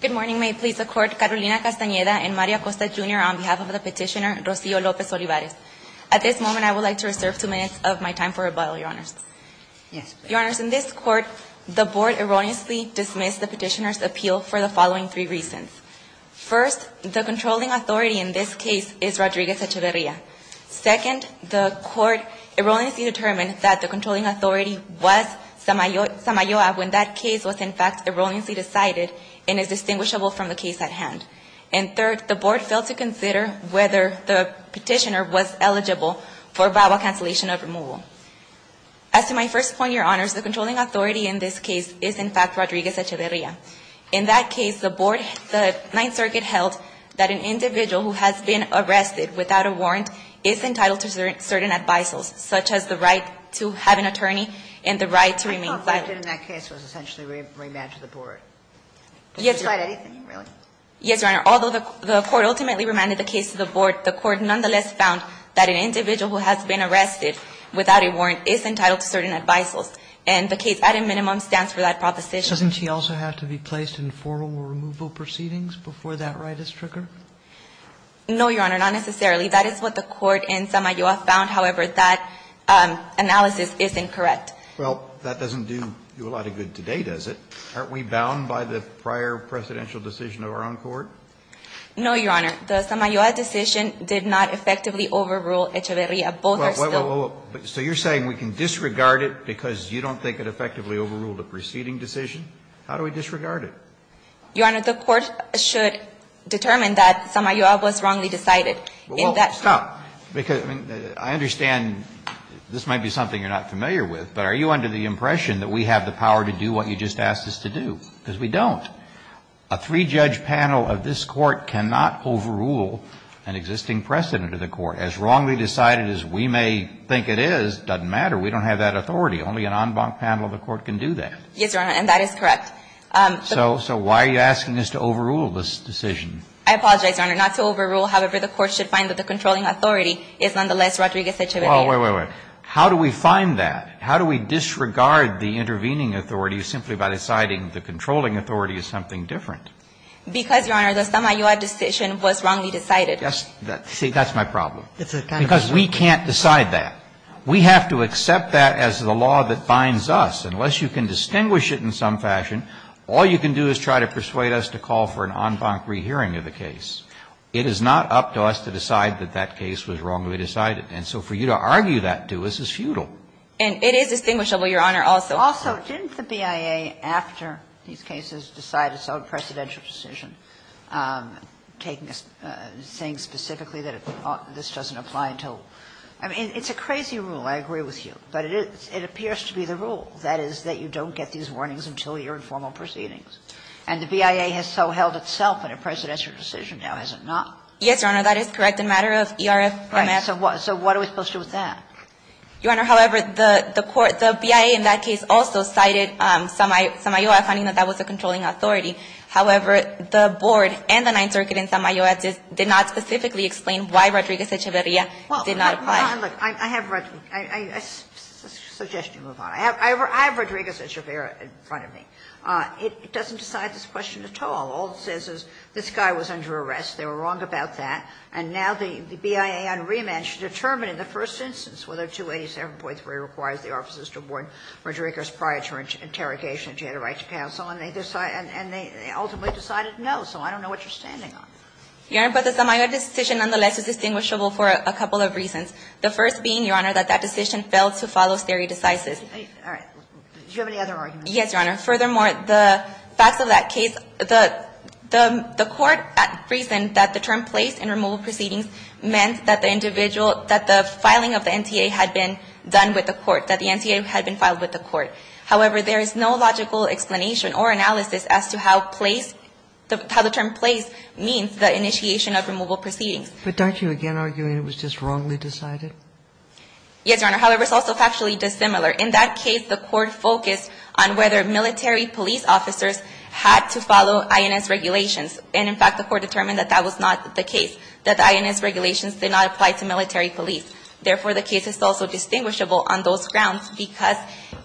Good morning. May it please the Court, Carolina Castaneda and Mario Acosta, Jr., on behalf of the petitioner, Rocio Lopez-Olivares. At this moment, I would like to reserve two minutes of my time for rebuttal, Your Honors. Your Honors, in this Court, the Board erroneously dismissed the petitioner's appeal for the following three reasons. First, the controlling authority in this case is Rodriguez Echeverria. Second, the Court erroneously determined that the controlling authority was Samayoa when that case was, in fact, erroneously decided and is distinguishable from the case at hand. And third, the Board failed to consider whether the petitioner was eligible for Bible cancellation of removal. As to my first point, Your Honors, the controlling authority in this case is, in fact, Rodriguez Echeverria. In that case, the Board, the Ninth Circuit held that an individual who has been arrested without a warrant is entitled to certain advisals, such as the right to have an attorney and the right to remain silent. Sotomayor, I thought what they did in that case was essentially remand to the Board. Did you decide anything, really? Yes, Your Honor. Although the Court ultimately remanded the case to the Board, the Court nonetheless found that an individual who has been arrested without a warrant is entitled to certain advisals, and the case at a minimum stands for that proposition. Doesn't he also have to be placed in formal removal proceedings before that right is triggered? No, Your Honor, not necessarily. That is what the court in Samayoa found. However, that analysis is incorrect. Well, that doesn't do you a lot of good today, does it? Aren't we bound by the prior presidential decision of our own court? No, Your Honor. The Samayoa decision did not effectively overrule Echeverria. Both are still. So you're saying we can disregard it because you don't think it effectively overruled a preceding decision? How do we disregard it? Your Honor, the court should determine that Samayoa was wrongly decided. Well, stop. Because I understand this might be something you're not familiar with, but are you under the impression that we have the power to do what you just asked us to do? Because we don't. A three-judge panel of this Court cannot overrule an existing precedent of the Court. As wrongly decided as we may think it is, it doesn't matter. We don't have that authority. Only an en banc panel of the Court can do that. Yes, Your Honor, and that is correct. So why are you asking us to overrule this decision? I apologize, Your Honor. Not to overrule. However, the court should find that the controlling authority is nonetheless Rodriguez-Echeverria. Well, wait, wait, wait. How do we find that? How do we disregard the intervening authority simply by deciding the controlling authority is something different? Because, Your Honor, the Samayoa decision was wrongly decided. See, that's my problem. Because we can't decide that. We have to accept that as the law that binds us. Unless you can distinguish it in some fashion, all you can do is try to persuade us to call for an en banc rehearing of the case. It is not up to us to decide that that case was wrongly decided. And so for you to argue that to us is futile. And it is distinguishable, Your Honor, also. Also, didn't the BIA, after these cases, decide its own presidential decision, taking this, saying specifically that this doesn't apply until – I mean, it's a crazy rule. I agree with you. But it appears to be the rule, that is, that you don't get these warnings until you're in formal proceedings. And the BIA has so held itself in a presidential decision now, has it not? Yes, Your Honor. That is correct. In a matter of ERFMS. Right. So what are we supposed to do with that? Your Honor, however, the BIA in that case also cited Samayoa finding that that was a controlling authority. However, the board and the Ninth Circuit in Samayoa did not specifically explain why Rodriguez Echeverria did not apply. Well, Your Honor, look, I have – I suggest you move on. I have Rodriguez Echeverria in front of me. It doesn't decide this question at all. All it says is this guy was under arrest, they were wrong about that, and now the BIA on remand should determine in the first instance whether 287.3 requires the officers to warn Rodriguez prior to interrogation if she had a right to counsel. And they ultimately decided no, so I don't know what you're standing on. Your Honor, but the Samayoa decision, nonetheless, is distinguishable for a couple of reasons. The first being, Your Honor, that that decision failed to follow stare decisis. All right. Do you have any other arguments? Yes, Your Honor. Furthermore, the facts of that case, the court reasoned that the term placed in removal proceedings meant that the individual, that the filing of the NTA had been done with the court, that the NTA had been filed with the court. However, there is no logical explanation or analysis as to how place, how the term placed means the initiation of removal proceedings. But don't you again argue that it was just wrongly decided? Yes, Your Honor. However, it's also factually dissimilar. In that case, the court focused on whether military police officers had to follow INS regulations. And, in fact, the court determined that that was not the case, that the INS regulations did not apply to military police. Therefore, the case is also distinguishable on those grounds because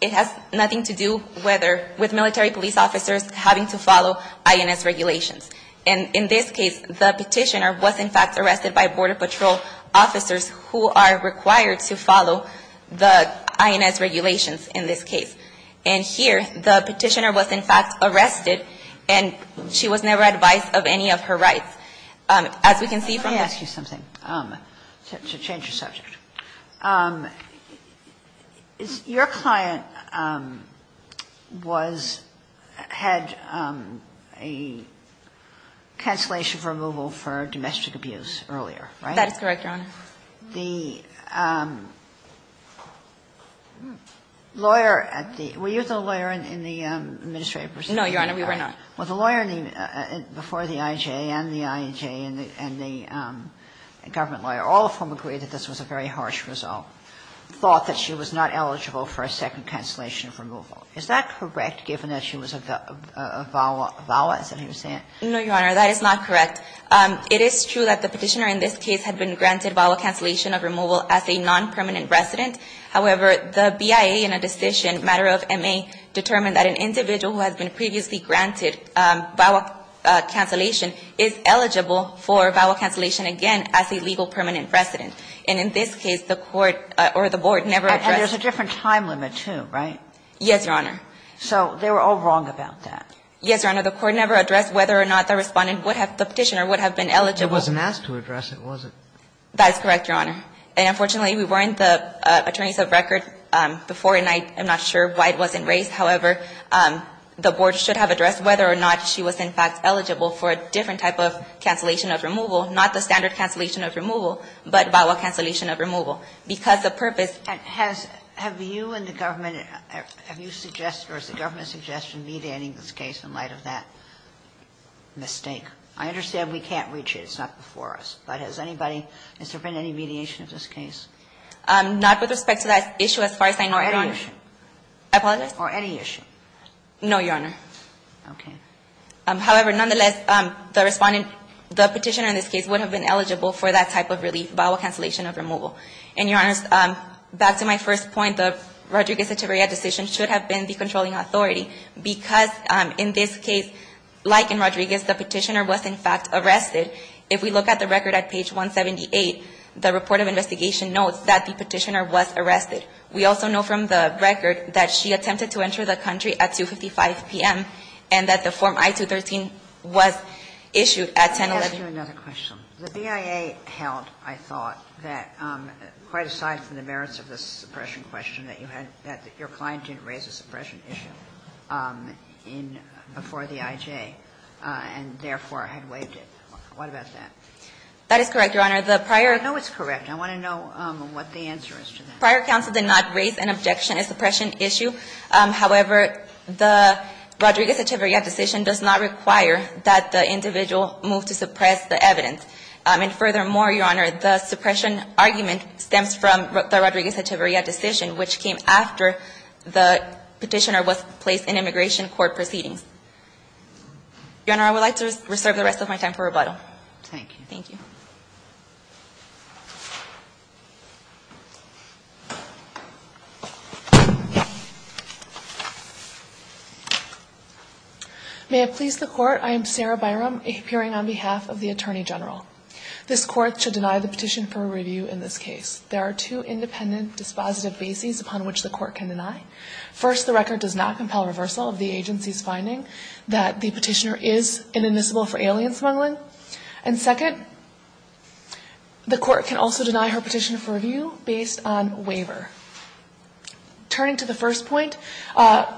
it has nothing to do whether, with military police officers having to follow INS regulations. And in this case, the Petitioner was, in fact, arrested by Border Patrol officers who are required to follow the INS regulations in this case. And here, the Petitioner was, in fact, arrested, and she was never advised of any of her rights. As we can see from this case. Your client was, had a cancellation of removal for domestic abuse earlier, right? That is correct, Your Honor. The lawyer at the, were you the lawyer in the administrative proceeding? No, Your Honor, we were not. Well, the lawyer before the IJ and the IJ and the government lawyer, all of whom agree that this was a very harsh result, thought that she was not eligible for a second cancellation of removal. Is that correct, given that she was a VAWA, VAWA, is that what you're saying? No, Your Honor, that is not correct. It is true that the Petitioner in this case had been granted VAWA cancellation of removal as a non-permanent resident. However, the BIA in a decision, matter of MA, determined that an individual who has been previously granted VAWA cancellation is eligible for VAWA cancellation again as a legal permanent resident. And in this case, the Court or the Board never addressed. And there's a different time limit, too, right? Yes, Your Honor. So they were all wrong about that. Yes, Your Honor. The Court never addressed whether or not the Respondent would have, the Petitioner, would have been eligible. It wasn't asked to address it, was it? That is correct, Your Honor. And unfortunately, we weren't the attorneys of record before, and I'm not sure why it wasn't raised. However, the Board should have addressed whether or not she was in fact eligible for a different type of cancellation of removal, not the standard cancellation of removal, but VAWA cancellation of removal. Because the purpose And has you and the government, have you suggested or is the government suggesting mediating this case in light of that mistake? I understand we can't reach it. It's not before us. But has anybody, has there been any mediation of this case? Not with respect to that issue, as far as I know, Your Honor. Or any issue? I apologize? Or any issue? No, Your Honor. Okay. However, nonetheless, the respondent, the Petitioner, in this case, would have been eligible for that type of relief, VAWA cancellation of removal. And, Your Honor, back to my first point, the Rodriguez-Echeverria decision should have been the controlling authority. Because in this case, like in Rodriguez, the Petitioner was in fact arrested. If we look at the record at page 178, the report of investigation notes that the Petitioner was arrested. We also know from the record that she attempted to enter the country at 2.55 p.m. and that the form I-213 was issued at 10.11. Let me ask you another question. The BIA held, I thought, that quite aside from the merits of this suppression question, that you had, that your client didn't raise a suppression issue in, before the IJ, and therefore had waived it. What about that? That is correct, Your Honor. The prior. I know it's correct. I want to know what the answer is to that. The prior counsel did not raise an objection, a suppression issue. However, the Rodriguez-Echeverria decision does not require that the individual move to suppress the evidence. And furthermore, Your Honor, the suppression argument stems from the Rodriguez-Echeverria decision, which came after the Petitioner was placed in immigration court proceedings. Your Honor, I would like to reserve the rest of my time for rebuttal. Thank you. Thank you. May it please the Court, I am Sarah Byram, appearing on behalf of the Attorney General. This Court should deny the petition for review in this case. There are two independent dispositive bases upon which the Court can deny. First, the record does not compel reversal of the agency's finding that the Petitioner is inadmissible for alien smuggling. And second, the Petitioner does not deny the Petitioner is inadmissible for alien smuggling. The Court can also deny her petition for review based on waiver. Turning to the first point,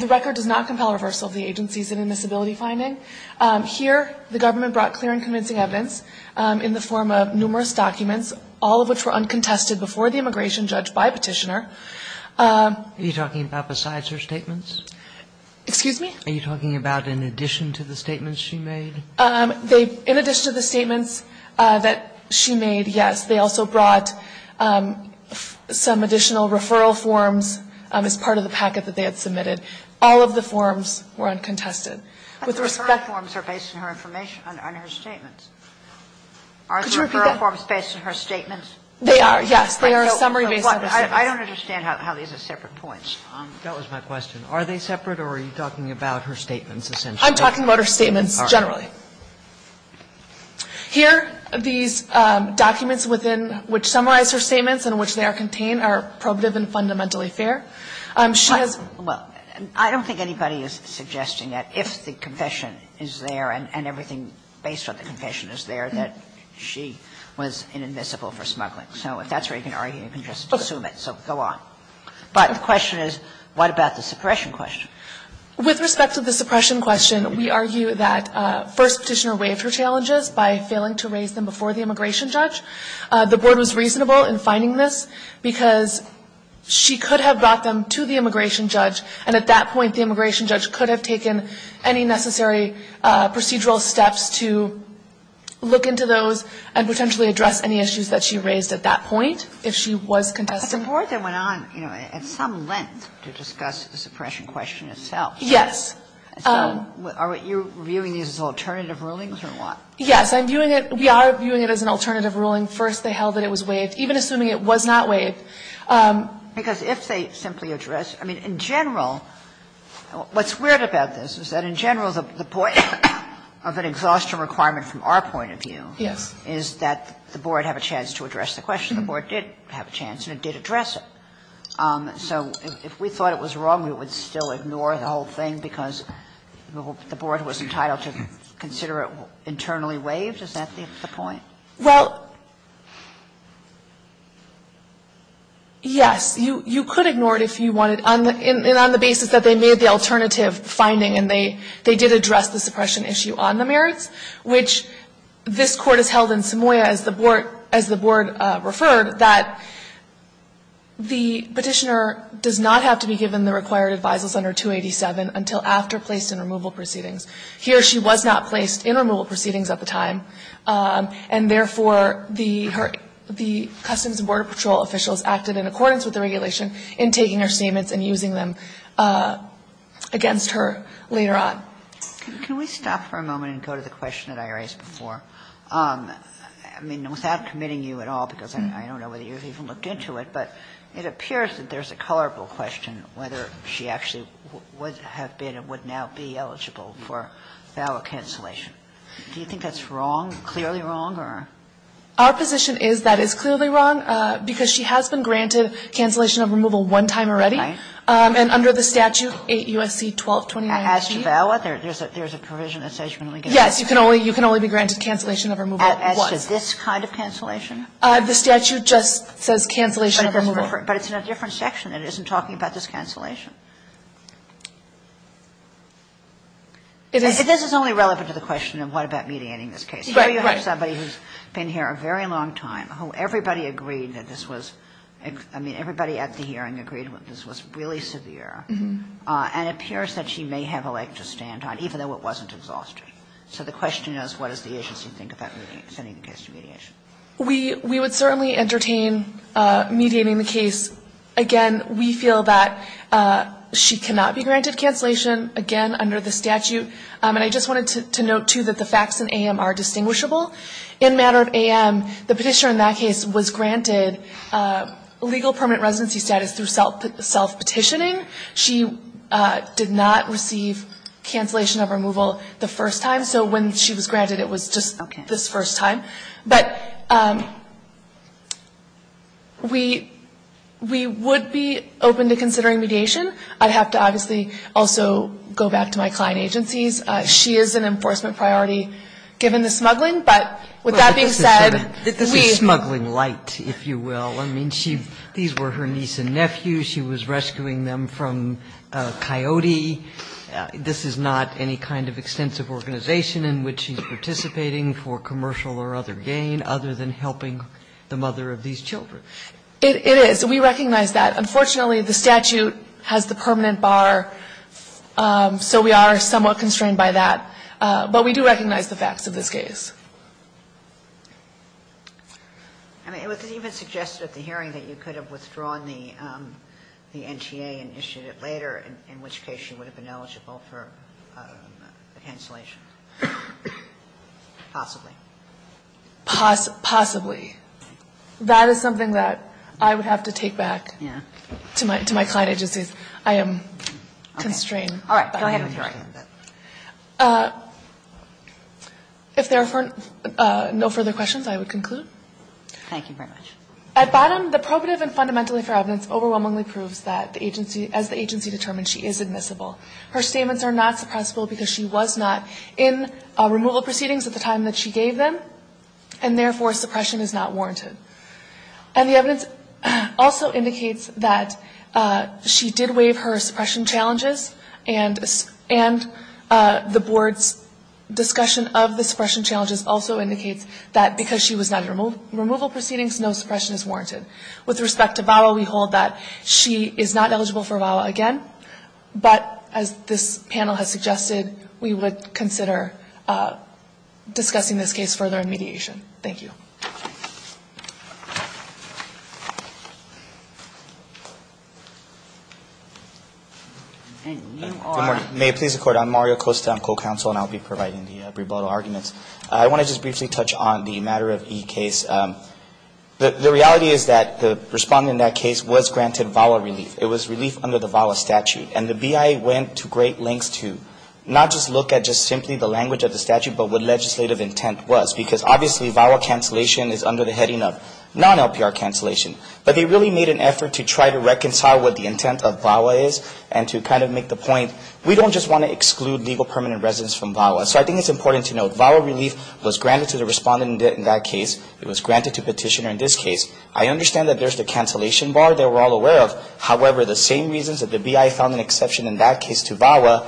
the record does not compel reversal of the agency's inadmissibility finding. Here, the government brought clear and convincing evidence in the form of numerous documents, all of which were uncontested before the immigration judge by Petitioner. Are you talking about besides her statements? Excuse me? Are you talking about in addition to the statements she made? In addition to the statements that she made, yes. They also brought some additional referral forms as part of the packet that they had submitted. All of the forms were uncontested. With respect to her statements, are the referral forms based on her statements? They are, yes. They are summary-based. I don't understand how these are separate points. That was my question. Are they separate or are you talking about her statements, essentially? I'm talking about her statements generally. Here, these documents within which summarize her statements and which they contain are probative and fundamentally fair. She has been. Well, I don't think anybody is suggesting that if the confession is there and everything based on the confession is there, that she was inadmissible for smuggling. So if that's where you can argue, you can just assume it. So go on. But the question is, what about the suppression question? With respect to the suppression question, we argue that First Petitioner waived her challenges by failing to raise them before the immigration judge. The Board was reasonable in finding this because she could have brought them to the immigration judge, and at that point the immigration judge could have taken any necessary procedural steps to look into those and potentially address any issues that she raised at that point if she was contested. And the Board then went on, you know, at some length to discuss the suppression question itself. Yes. Are you viewing these as alternative rulings or what? Yes, I'm viewing it. We are viewing it as an alternative ruling. First, they held that it was waived, even assuming it was not waived. Because if they simply address, I mean, in general, what's weird about this is that in general the point of an exhaustion requirement from our point of view is that the So if we thought it was wrong, we would still ignore the whole thing because the Board was entitled to consider it internally waived? Is that the point? Well, yes. You could ignore it if you wanted, and on the basis that they made the alternative finding and they did address the suppression issue on the merits, which this Court has held in Samoia as the Board referred, that the Petitioner does not have to be given the required advisers under 287 until after placed in removal proceedings. Here she was not placed in removal proceedings at the time, and therefore the Customs and Border Patrol officials acted in accordance with the regulation in taking her statements and using them against her later on. Can we stop for a moment and go to the question that I raised before? I mean, without committing you at all, because I don't know whether you've even looked into it, but it appears that there's a colorable question whether she actually would have been and would now be eligible for valid cancellation. Do you think that's wrong, clearly wrong, or? Our position is that it's clearly wrong because she has been granted cancellation of removal one time already. Right. And under the statute 8 U.S.C. 1229. As to valid, there's a provision that says you can only get one. Yes, you can only be granted cancellation of removal once. As to this kind of cancellation? The statute just says cancellation of removal. But it's in a different section. It isn't talking about this cancellation. This is only relevant to the question of what about mediating this case. Right, right. Here you have somebody who's been here a very long time, who everybody agreed that this was – I mean, everybody at the hearing agreed that this was really severe, and it appears that she may have a leg to stand on, even though it wasn't exhaustive. So the question is, what does the agency think about sending the case to mediation? We would certainly entertain mediating the case. Again, we feel that she cannot be granted cancellation, again, under the statute. And I just wanted to note, too, that the facts in AM are distinguishable. In matter of AM, the Petitioner in that case was granted legal permanent residency status through self-petitioning. She did not receive cancellation of removal the first time. So when she was granted, it was just this first time. But we would be open to considering mediation. I'd have to obviously also go back to my client agencies. She is an enforcement priority, given the smuggling. But with that being said, we – This is smuggling light, if you will. I mean, she – these were her niece and nephew. She was rescuing them from a coyote. This is not any kind of extensive organization in which she's participating for commercial or other gain, other than helping the mother of these children. It is. We recognize that. Unfortunately, the statute has the permanent bar, so we are somewhat constrained by that. But we do recognize the facts of this case. I mean, it was even suggested at the hearing that you could have withdrawn the NTA initiative later, in which case she would have been eligible for cancellation. Possibly. Possibly. That is something that I would have to take back to my client agencies. I am constrained. All right. Go ahead with your argument. If there are no further questions, I would conclude. Thank you very much. At bottom, the probative and fundamentally fair evidence overwhelmingly proves that the agency – as the agency determined, she is admissible. Her statements are not suppressible because she was not in removal proceedings at the time that she gave them, and therefore suppression is not warranted. And the evidence also indicates that she did waive her suppression challenges and the board's discussion of the suppression challenges also indicates that because she was not in removal proceedings, no suppression is warranted. With respect to VAWA, we hold that she is not eligible for VAWA again, but as this panel has suggested, we would consider discussing this case further in mediation. Thank you. And you are? Good morning. May it please the Court. I'm Mario Costa. I'm co-counsel, and I'll be providing the rebuttal arguments. I want to just briefly touch on the matter of E case. The reality is that the respondent in that case was granted VAWA relief. It was relief under the VAWA statute. And the BIA went to great lengths to not just look at just simply the language of the statute, but what legislative intent was. Because obviously VAWA cancellation is under the heading of non-LPR cancellation. But they really made an effort to try to reconcile what the intent of VAWA is and to kind of make the point we don't just want to exclude legal permanent residents from VAWA. So I think it's important to note VAWA relief was granted to the respondent in that case. It was granted to petitioner in this case. I understand that there's the cancellation bar that we're all aware of. However, the same reasons that the BIA found an exception in that case to VAWA,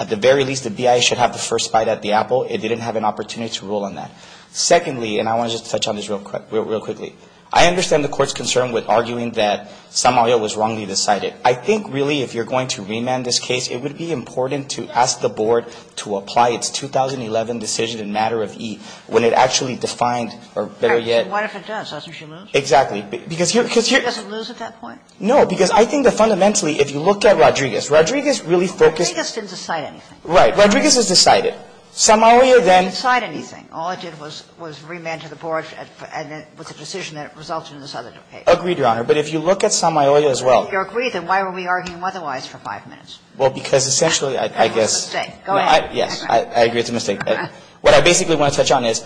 at the very least the BIA should have the first bite at the apple. It didn't have an opportunity to rule on that. Secondly, and I want to just touch on this real quickly. I understand the Court's concern with arguing that San Mario was wrongly decided. I think really if you're going to remand this case, it would be important to ask the Board to apply its 2011 decision in matter of E when it actually defined or better yet. Sotomayor What if it does? Doesn't she lose? Martinez Exactly. Because here you're going to. Sotomayor She doesn't lose at that point? Martinez No. Because I think that fundamentally if you look at Rodriguez, Rodriguez really focused. Sotomayor Rodriguez didn't decide anything. Martinez Right. Rodriguez has decided. San Mario then. Sotomayor Rodriguez didn't decide anything. All it did was remand to the Board and it was a decision that resulted in this other case. Martinez Agreed, Your Honor. But if you look at San Mario as well. Sotomayor If you agree, then why were we arguing otherwise for five minutes? Martinez Well, because essentially I guess. Sotomayor That's a mistake. Go ahead. Martinez Yes. I agree it's a mistake. What I basically want to touch on is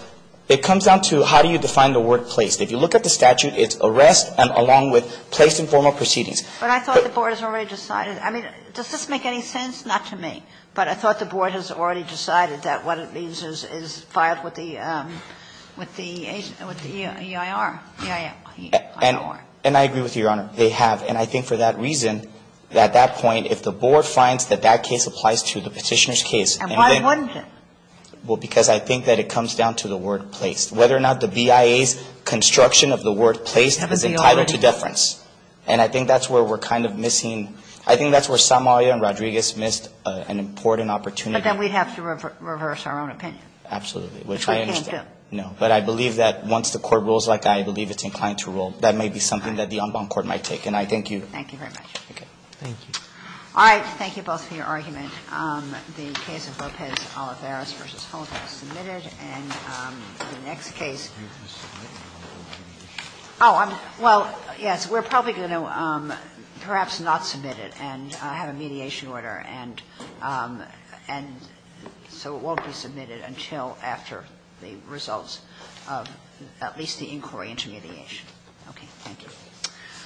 it comes down to how do you define the word placed. If you look at the statute, it's arrest and along with placed in formal proceedings. Sotomayor But I thought the Board has already decided. I mean, does this make any sense? Not to me. But I thought the Board has already decided that what it needs is filed with the EIR. Martinez And I agree with you, Your Honor. They have. And I think for that reason, at that point, if the Board finds that that case applies to the Petitioner's case. Sotomayor And why wouldn't it? Martinez Well, because I think that it comes down to the word placed. Whether or not the BIA's construction of the word placed is entitled to deference. And I think that's where we're kind of missing. I think that's where Somalia and Rodriguez missed an important opportunity. Sotomayor But then we'd have to reverse our own opinion. Martinez Absolutely. Which I understand. Sotomayor Which we can't do. Martinez No. But I believe that once the Court rules like I believe it's inclined to rule, that may be something that the en banc court might take. And I thank you. Sotomayor Thank you very much. Martinez Okay. Roberts Thank you. Sotomayor All right. Thank you both for your argument. The case of Lopez-Olivares v. Holmes was submitted. And the next case. Well, yes, we're probably going to perhaps not submit it and have a mediation order, and so it won't be submitted until after the results of at least the inquiry into mediation. Okay. Thank you.